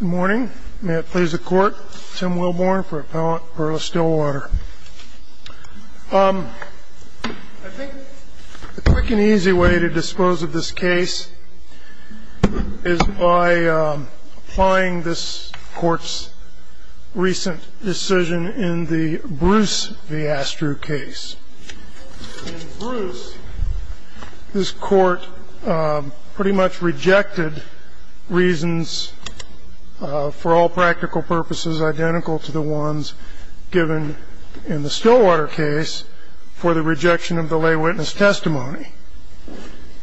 Good morning. May it please the court, Tim Wilborn for Appellant Perla Stillwater. I think a quick and easy way to dispose of this case is by applying this court's recent decision in the Bruce v. Astrew case. In Bruce, this court pretty much rejected reasons for all practical purposes identical to the ones given in the Stillwater case for the rejection of the lay witness testimony.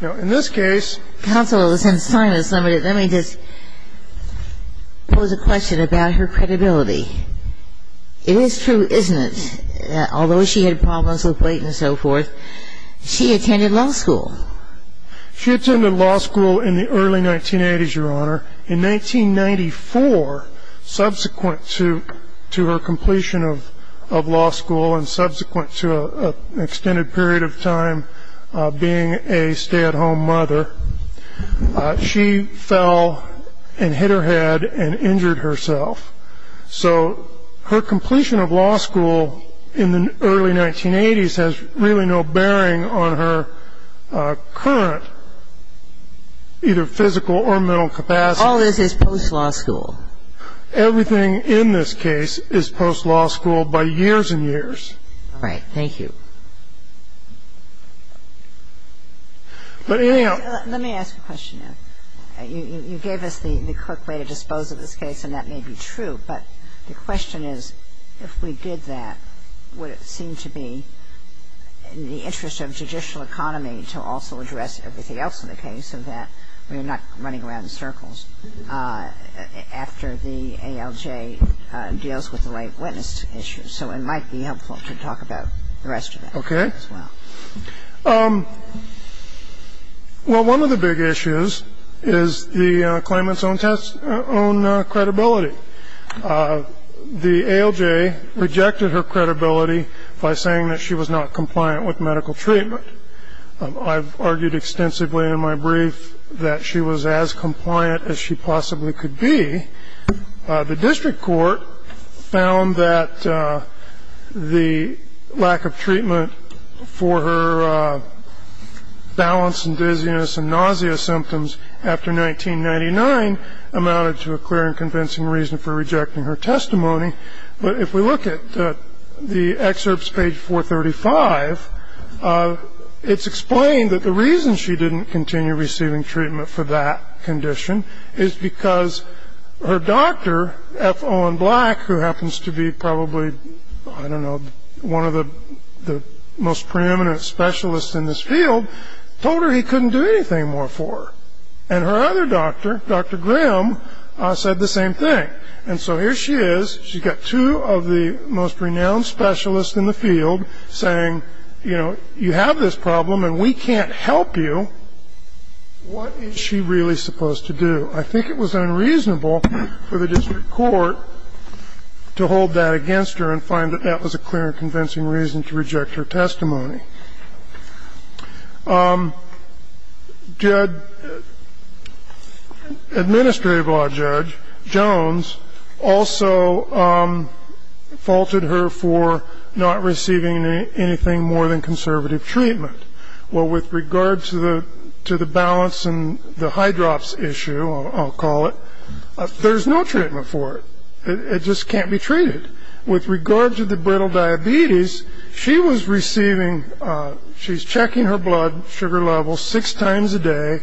Now, in this case, counsel, since time is limited, let me just pose a question about her credibility. It is true, isn't it, that although she had problems with weight and so forth, she attended law school? She attended law school in the early 1980s, Your Honor. In 1994, subsequent to her completion of law school and subsequent to an extended period of time being a stay-at-home mother, she fell and hit her head and injured herself. So her completion of law school in the early 1980s has really no bearing on her current either physical or mental capacity. All this is post-law school. Everything in this case is post-law school by years and years. All right. Thank you. Let me ask a question. You gave us the quick way to dispose of this case, and that may be true, but the question is, if we did that, would it seem to be in the interest of judicial economy to also address everything else in the case so that we're not running around in circles after the ALJ deals with the lay witness issue? So it might be helpful to talk about the rest of it. Okay. Well, one of the big issues is the claimant's own credibility. The ALJ rejected her credibility by saying that she was not compliant with medical treatment. I've argued extensively in my brief that she was as compliant as she possibly could be. The district court found that the lack of treatment for her balance and dizziness and nausea symptoms after 1999 amounted to a clear and convincing reason for rejecting her testimony. But if we look at the excerpts, page 435, it's explained that the reason she didn't continue receiving treatment for that condition is because her doctor, F. Owen Black, who happens to be probably, I don't know, one of the most preeminent specialists in this field, told her he couldn't do anything more for her. And her other doctor, Dr. Grimm, said the same thing. And so here she is. She's got two of the most renowned specialists in the field saying, you know, you have this problem and we can't help you. What is she really supposed to do? I think it was unreasonable for the district court to hold that against her and find that that was a clear and convincing reason to reject her testimony. Administrative law judge Jones also faulted her for not receiving anything more than conservative treatment. Well, with regard to the balance and the high drops issue, I'll call it, there's no treatment for it. It just can't be treated. With regard to the brittle diabetes, she was receiving, she's checking her blood sugar level six times a day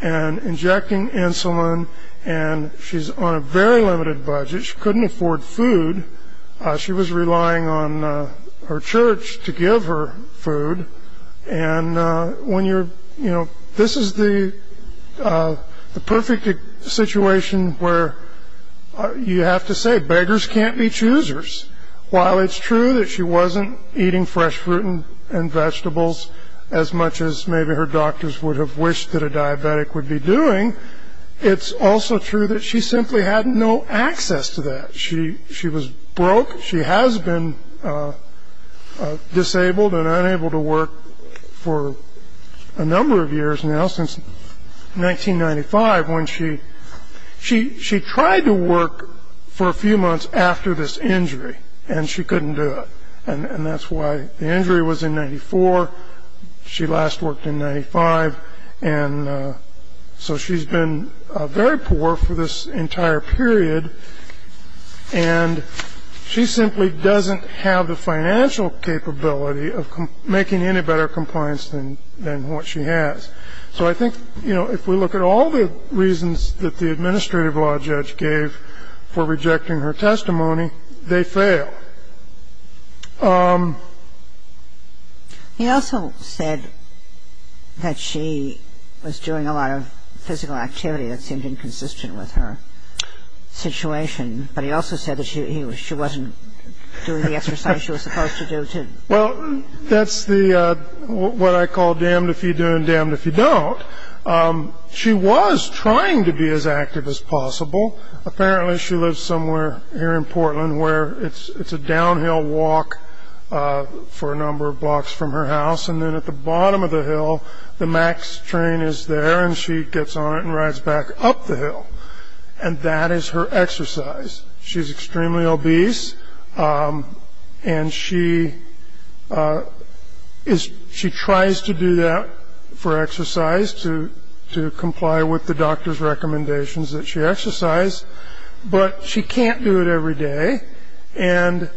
and injecting insulin, and she's on a very limited budget. She couldn't afford food. She was relying on her church to give her food. And when you're, you know, this is the perfect situation where you have to say beggars can't be choosers. While it's true that she wasn't eating fresh fruit and vegetables as much as maybe her doctors would have wished that a diabetic would be doing, it's also true that she simply had no access to that. She was broke. She has been disabled and unable to work for a number of years now, since 1995, when she tried to work for a few months after this injury, and she couldn't do it. And that's why the injury was in 94. She last worked in 95. And so she's been very poor for this entire period, and she simply doesn't have the financial capability of making any better compliance than what she has. So I think, you know, if we look at all the reasons that the administrative law judge gave for rejecting her testimony, they fail. He also said that she was doing a lot of physical activity that seemed inconsistent with her situation. But he also said that she wasn't doing the exercise she was supposed to do. Well, that's what I call damned if you do and damned if you don't. She was trying to be as active as possible. Apparently, she lives somewhere here in Portland where it's a downhill walk for a number of blocks from her house. And then at the bottom of the hill, the MAX train is there, and she gets on it and rides back up the hill. And that is her exercise. She's extremely obese, and she tries to do that for exercise to comply with the doctor's recommendations that she exercised. But she can't do it every day, and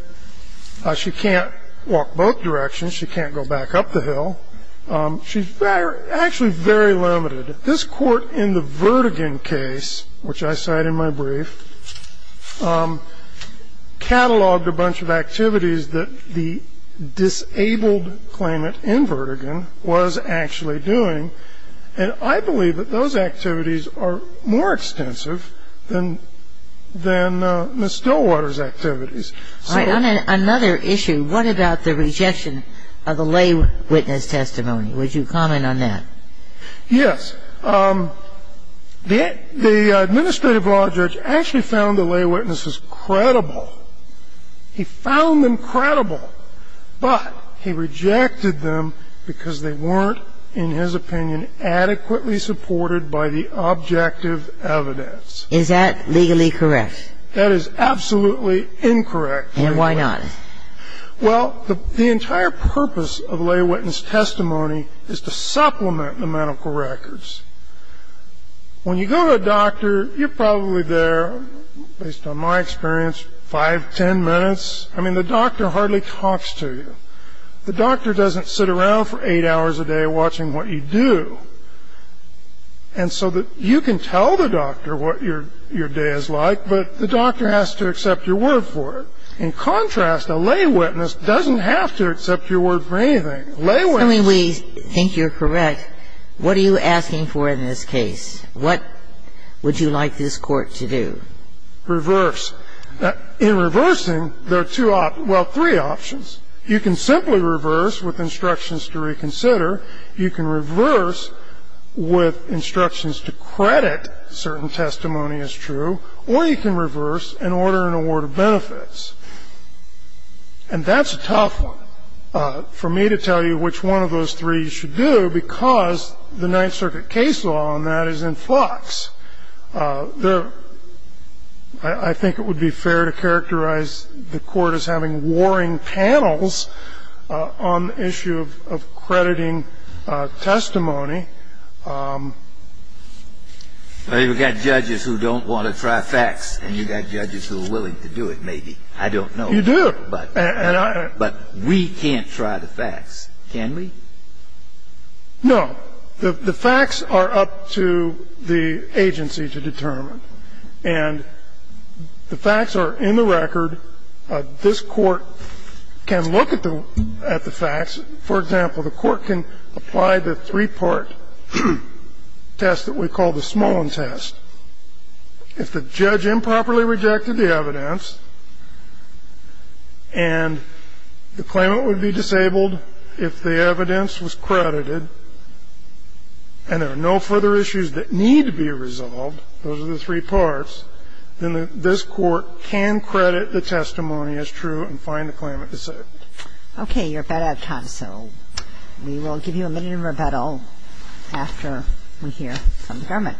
she can't walk both directions. She can't go back up the hill. She's actually very limited. And I believe that this Court, in the Verdigan case, which I cite in my brief, cataloged a bunch of activities that the disabled claimant in Verdigan was actually doing. And I believe that those activities are more extensive than Ms. Stillwater's activities. All right. On another issue, what about the rejection of the lay witness testimony? Would you comment on that? Yes. The administrative law judge actually found the lay witnesses credible. He found them credible, but he rejected them because they weren't, in his opinion, adequately supported by the objective evidence. Is that legally correct? That is absolutely incorrect. And why not? Well, the entire purpose of lay witness testimony is to supplement the medical records. When you go to a doctor, you're probably there, based on my experience, five, ten minutes. I mean, the doctor hardly talks to you. The doctor doesn't sit around for eight hours a day watching what you do. And so you can tell the doctor what your day is like, but the doctor has to accept your word for it. In contrast, a lay witness doesn't have to accept your word for anything. I mean, we think you're correct. What are you asking for in this case? What would you like this Court to do? Reverse. In reversing, there are two options, well, three options. You can simply reverse with instructions to reconsider. You can reverse with instructions to credit certain testimony as true. Or you can reverse and order an award of benefits. And that's a tough one. For me to tell you which one of those three you should do, because the Ninth Circuit case law on that is in flux. I think it would be fair to characterize the Court as having warring panels on the issue of crediting testimony. Well, you've got judges who don't want to try facts, and you've got judges who are willing to do it, maybe. I don't know. You do. But we can't try the facts, can we? No. The facts are up to the agency to determine. And the facts are in the record. This Court can look at the facts. For example, the Court can apply the three-part test that we call the Smolin test. If the judge improperly rejected the evidence and the claimant would be disabled if the evidence was credited and there are no further issues that need to be resolved, those are the three parts, then this Court can credit the testimony as true and find the claimant disabled. Okay. You're about out of time. We have a motion to adjourn the hearing. So we will give you a minute of rebuttal after we hear from the government.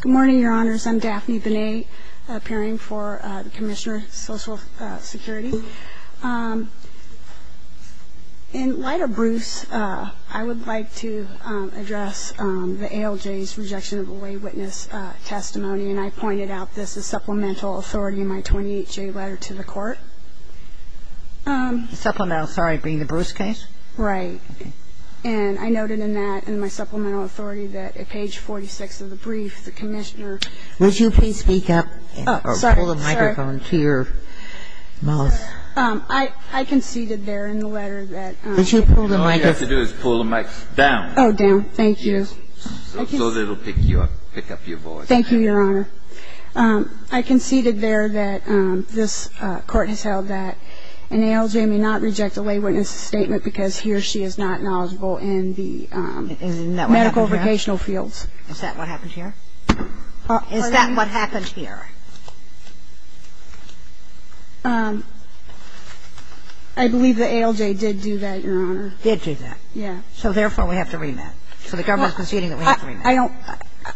Good morning, Your Honors. I'm Daphne Benet, appearing for the Commissioner of Social Security. In light of Bruce, I would like to address the ALJ's rejection of the lay witness testimony, and I pointed out this as supplemental authority in my 28-J letter to the Court. Supplemental authority being the Bruce case? Right. And I noted in that, in my supplemental authority, that at page 46 of the brief, the Commissioner ---- Would you please speak up? Oh, sorry. I conceded there in the letter that ---- All you have to do is pull the mic down. Oh, down. Thank you. So that it will pick you up, pick up your voice. Thank you, Your Honor. I conceded there that this Court has held that an ALJ may not reject a lay witness statement because he or she is not knowledgeable in the medical vocational fields. Isn't that what happened here? Is that what happened here? I believe the ALJ did do that, Your Honor. Did do that? Yeah. So therefore, we have to remand. So the government is conceding that we have to remand.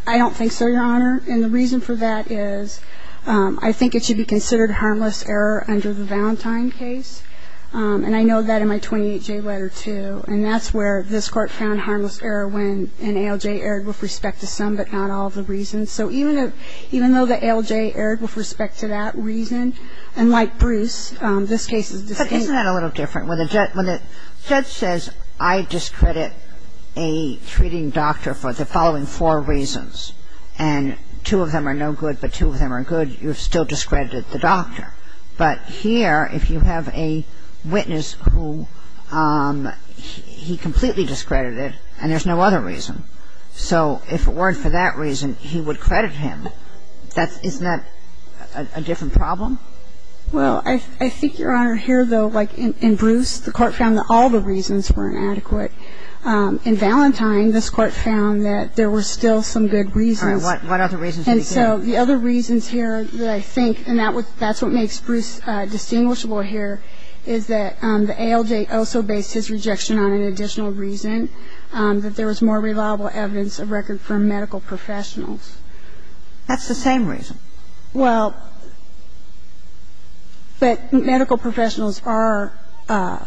I don't think so, Your Honor. And the reason for that is I think it should be considered harmless error under the Valentine case. And I know that in my 28-J letter, too. And that's where this Court found harmless error when an ALJ erred with respect to some, but not all, of the lay witnesses. In this case, the ALJ erred with respect to the patient and there are no other reasons. So even though the ALJ erred with respect to that reason, and like Bruce, this case is distinct. But isn't that a little different? When the judge says I discredit a treating doctor for the following four reasons, and two of them are no good but two of them are good, you've still discredited the doctor. But here, if you have a witness who he completely discredited and there's no other reason. So if it weren't for that reason, he would credit him. Isn't that a different problem? Well, I think, Your Honor, here, though, like in Bruce, the court found that all the reasons were inadequate. In Valentine, this court found that there were still some good reasons. All right. What other reasons did he give? And so the other reasons here that I think, and that's what makes Bruce distinguishable here, is that the ALJ also based his rejection on an additional reason, that there was more reliable evidence of record for medical professionals. That's the same reason. Well, but medical professionals are the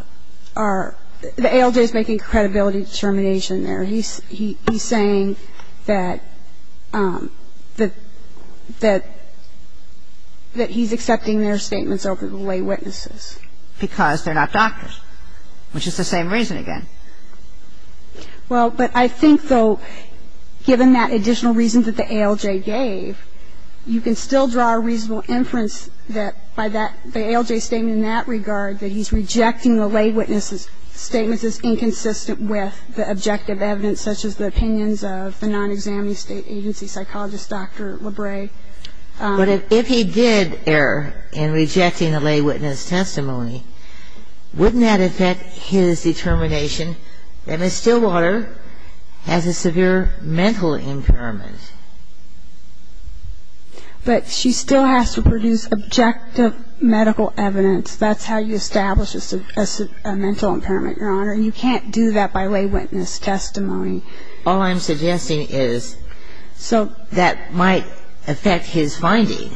ALJ is making credibility determination there. And he's saying that he's accepting their statements over the lay witnesses. Because they're not doctors, which is the same reason again. Well, but I think, though, given that additional reason that the ALJ gave, you can still draw a reasonable inference that by that ALJ statement in that regard, that he's rejecting the lay witness' statements as inconsistent with the objective evidence, such as the opinions of the non-examinee state agency psychologist, Dr. Lebray. But if he did err in rejecting the lay witness' testimony, wouldn't that affect his determination that Ms. Stillwater has a severe mental impairment? But she still has to produce objective medical evidence. That's how you establish a mental impairment, Your Honor. And you can't do that by lay witness' testimony. All I'm suggesting is that might affect his finding.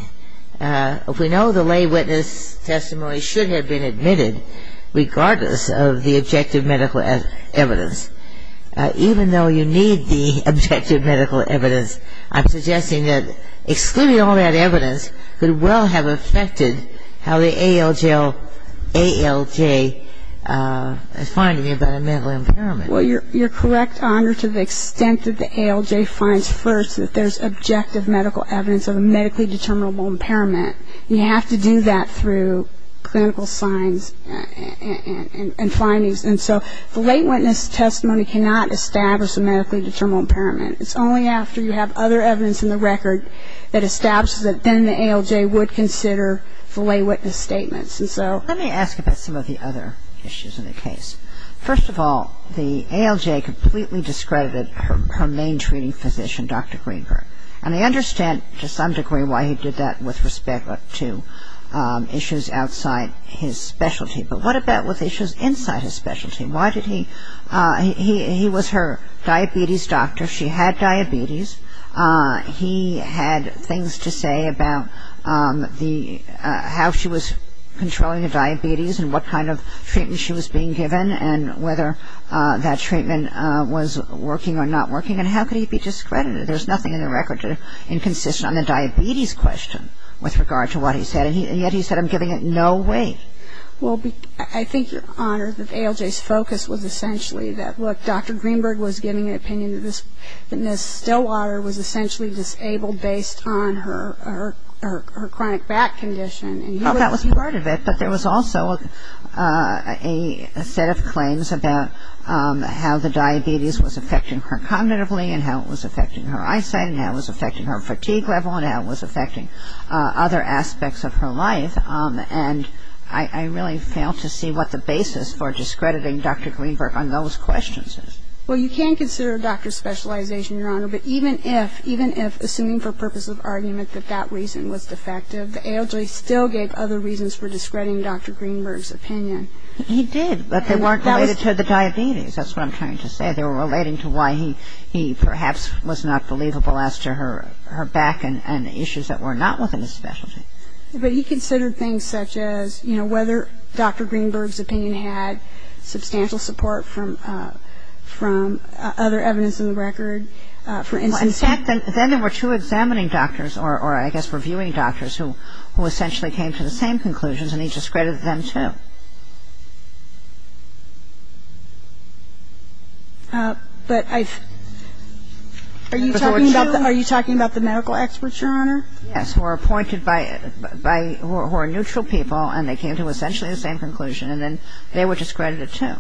We know the lay witness' testimony should have been admitted, regardless of the objective medical evidence. Even though you need the objective medical evidence, I'm suggesting that excluding all that evidence could well have affected how the ALJ is finding about a mental impairment. Well, you're correct, Your Honor, to the extent that the ALJ finds first that there's objective medical evidence of a medically determinable impairment. You have to do that through clinical signs and findings. And so the lay witness' testimony cannot establish a medically determinable impairment. It's only after you have other evidence in the record that establishes that then the ALJ would consider the lay witness' statements. And so let me ask about some of the other issues in the case. First of all, the ALJ completely discredited her main treating physician, Dr. Greenberg. And I understand to some degree why he did that with respect to issues outside his specialty. But what about with issues inside his specialty? He was her diabetes doctor. She had diabetes. He had things to say about how she was controlling her diabetes and what kind of treatment she was being given and whether that treatment was working or not working. And how could he be discredited? There's nothing in the record inconsistent on the diabetes question with regard to what he said. And yet he said, I'm giving it no weight. Well, I think, Your Honor, that ALJ's focus was essentially that, look, Dr. Greenberg was giving an opinion that Ms. Stillwater was essentially disabled based on her chronic back condition. Well, that was part of it. But there was also a set of claims about how the diabetes was affecting her cognitively and how it was affecting her eyesight and how it was affecting her fatigue level and how it was affecting other aspects of her life. And I really fail to see what the basis for discrediting Dr. Greenberg on those questions is. Well, you can consider doctor specialization, Your Honor. But even if, even if, assuming for purpose of argument that that reason was defective, the ALJ still gave other reasons for discrediting Dr. Greenberg's opinion. He did, but they weren't related to the diabetes. That's what I'm trying to say. They were relating to why he perhaps was not believable as to her back and issues that were not within his specialty. But he considered things such as, you know, whether Dr. Greenberg's opinion had substantial support from other evidence in the record. Well, in fact, then there were two examining doctors, or I guess reviewing doctors, who essentially came to the same conclusions, and he discredited them, too. Yes, who are appointed by, who are neutral people, and they came to essentially the same conclusion, and then they were discredited, too.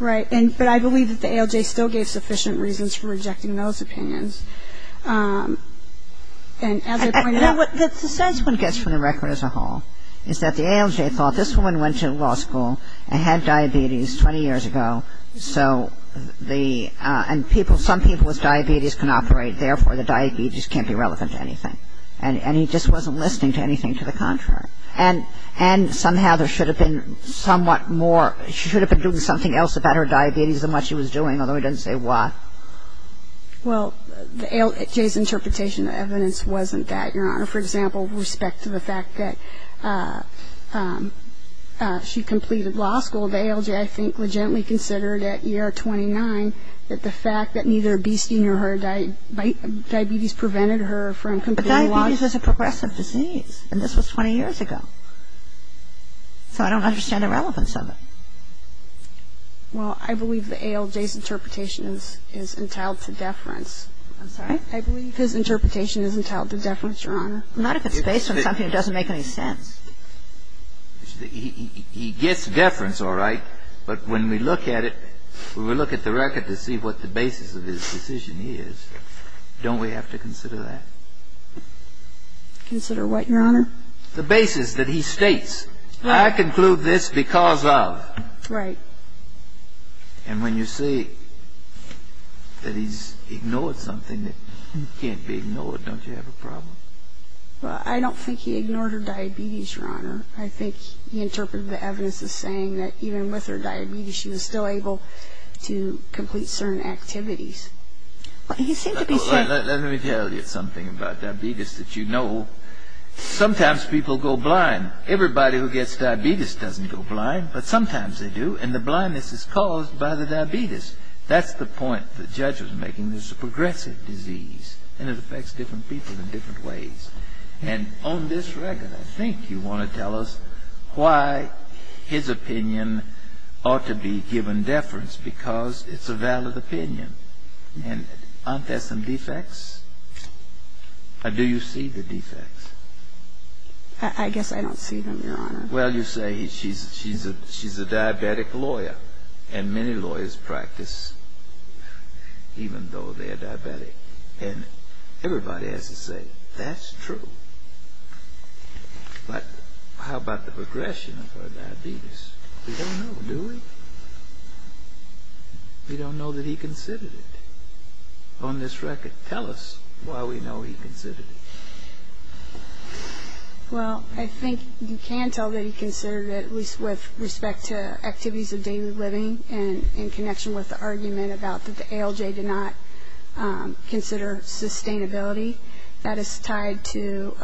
Right. But I believe that the ALJ still gave sufficient reasons for rejecting those opinions. And as I pointed out — You know, what the sense one gets from the record as a whole is that the ALJ thought, this woman went to law school and had diabetes 20 years ago, so the, and people, some people with diabetes can operate, therefore the diabetes can't be relevant to anything. And he just wasn't listening to anything to the contrary. And somehow there should have been somewhat more, she should have been doing something else about her diabetes than what she was doing, although he doesn't say why. Well, the ALJ's interpretation of evidence wasn't that, Your Honor. For example, with respect to the fact that she completed law school, the ALJ, I think, legitimately considered at year 29 that the fact that neither obesity nor her diabetes prevented her from completing law school. But diabetes is a progressive disease, and this was 20 years ago. So I don't understand the relevance of it. Well, I believe the ALJ's interpretation is entitled to deference. I'm sorry? I believe his interpretation is entitled to deference, Your Honor. Not if it's based on something that doesn't make any sense. He gets deference, all right, but when we look at it, when we look at the record to see what the basis of his decision is, don't we have to consider that? Consider what, Your Honor? The basis that he states, I conclude this because of. Right. And when you see that he's ignored something that can't be ignored, don't you have a problem? Well, I don't think he ignored her diabetes, Your Honor. I think he interpreted the evidence as saying that even with her diabetes, she was still able to complete certain activities. Let me tell you something about diabetes that you know. Sometimes people go blind. Everybody who gets diabetes doesn't go blind, but sometimes they do, and the blindness is caused by the diabetes. That's the point the judge was making. And there's a progressive disease, and it affects different people in different ways. And on this record, I think you want to tell us why his opinion ought to be given deference, because it's a valid opinion. And aren't there some defects? Do you see the defects? I guess I don't see them, Your Honor. Well, you say she's a diabetic lawyer, and many lawyers practice even though they're diabetic. And everybody has to say, that's true. But how about the progression of her diabetes? We don't know, do we? We don't know that he considered it. On this record, tell us why we know he considered it. Well, I think you can tell that he considered it, at least with respect to activities of daily living and in connection with the argument about that the ALJ did not consider sustainability. That is tied to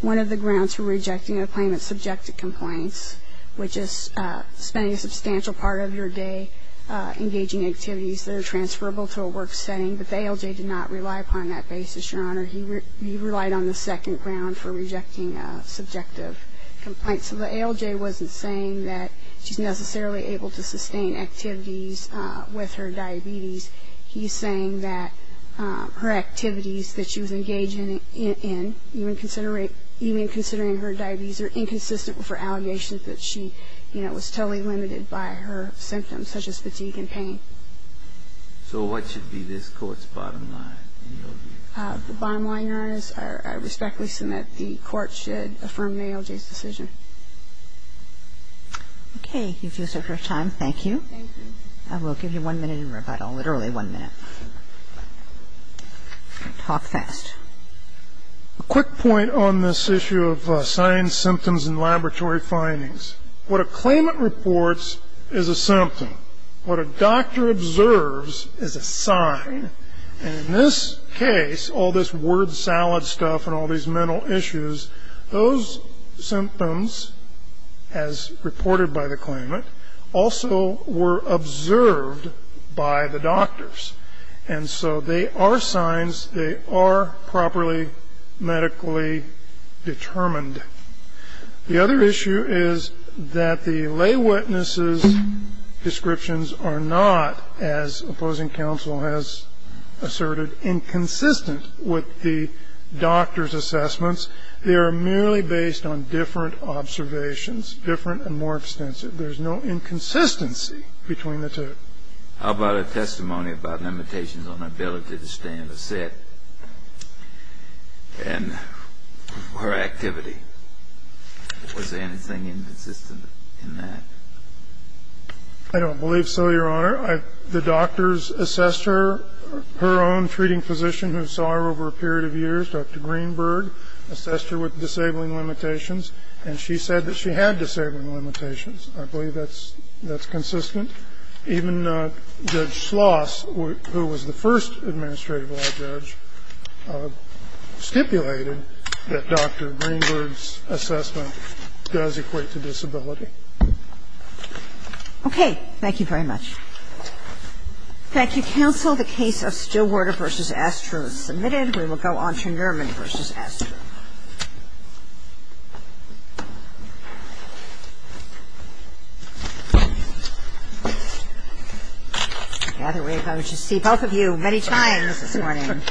one of the grounds for rejecting a claimant's subjective complaints, which is spending a substantial part of your day engaging in activities that are transferable to a work setting. But the ALJ did not rely upon that basis, Your Honor. He relied on the second ground for rejecting a subjective complaint. So the ALJ wasn't saying that she's necessarily able to sustain activities with her diabetes. He's saying that her activities that she was engaging in, even considering her diabetes, are inconsistent with her allegations that she was totally limited by her symptoms, such as fatigue and pain. So what should be this Court's bottom line? The bottom line, Your Honor, is I respectfully submit the Court should affirm the ALJ's decision. Okay. You've used up your time. Thank you. Thank you. I will give you one minute in rebuttal, literally one minute. Talk fast. A quick point on this issue of signs, symptoms, and laboratory findings. What a claimant reports is a symptom. What a doctor observes is a sign. And in this case, all this word salad stuff and all these mental issues, those symptoms, as reported by the claimant, also were observed by the doctors. And so they are signs. They are properly medically determined. The other issue is that the lay witness's descriptions are not, as opposing counsel has asserted, inconsistent with the doctor's assessments. They are merely based on different observations, different and more extensive. There's no inconsistency between the two. How about a testimony about limitations on ability to stand or sit and her activity? Was there anything inconsistent in that? I don't believe so, Your Honor. The doctors assessed her, her own treating physician who saw her over a period of years, Dr. Greenberg, assessed her with disabling limitations, and she said that she had disabling limitations. I believe that's consistent. Even Judge Schloss, who was the first administrative law judge, stipulated that Dr. Greenberg's assessment does equate to disability. Okay. Thank you very much. Thank you, counsel. The case of Stillwater v. Astro is submitted. We will go on to Nerman v. Astro. I gather we have got to see both of you many times this morning.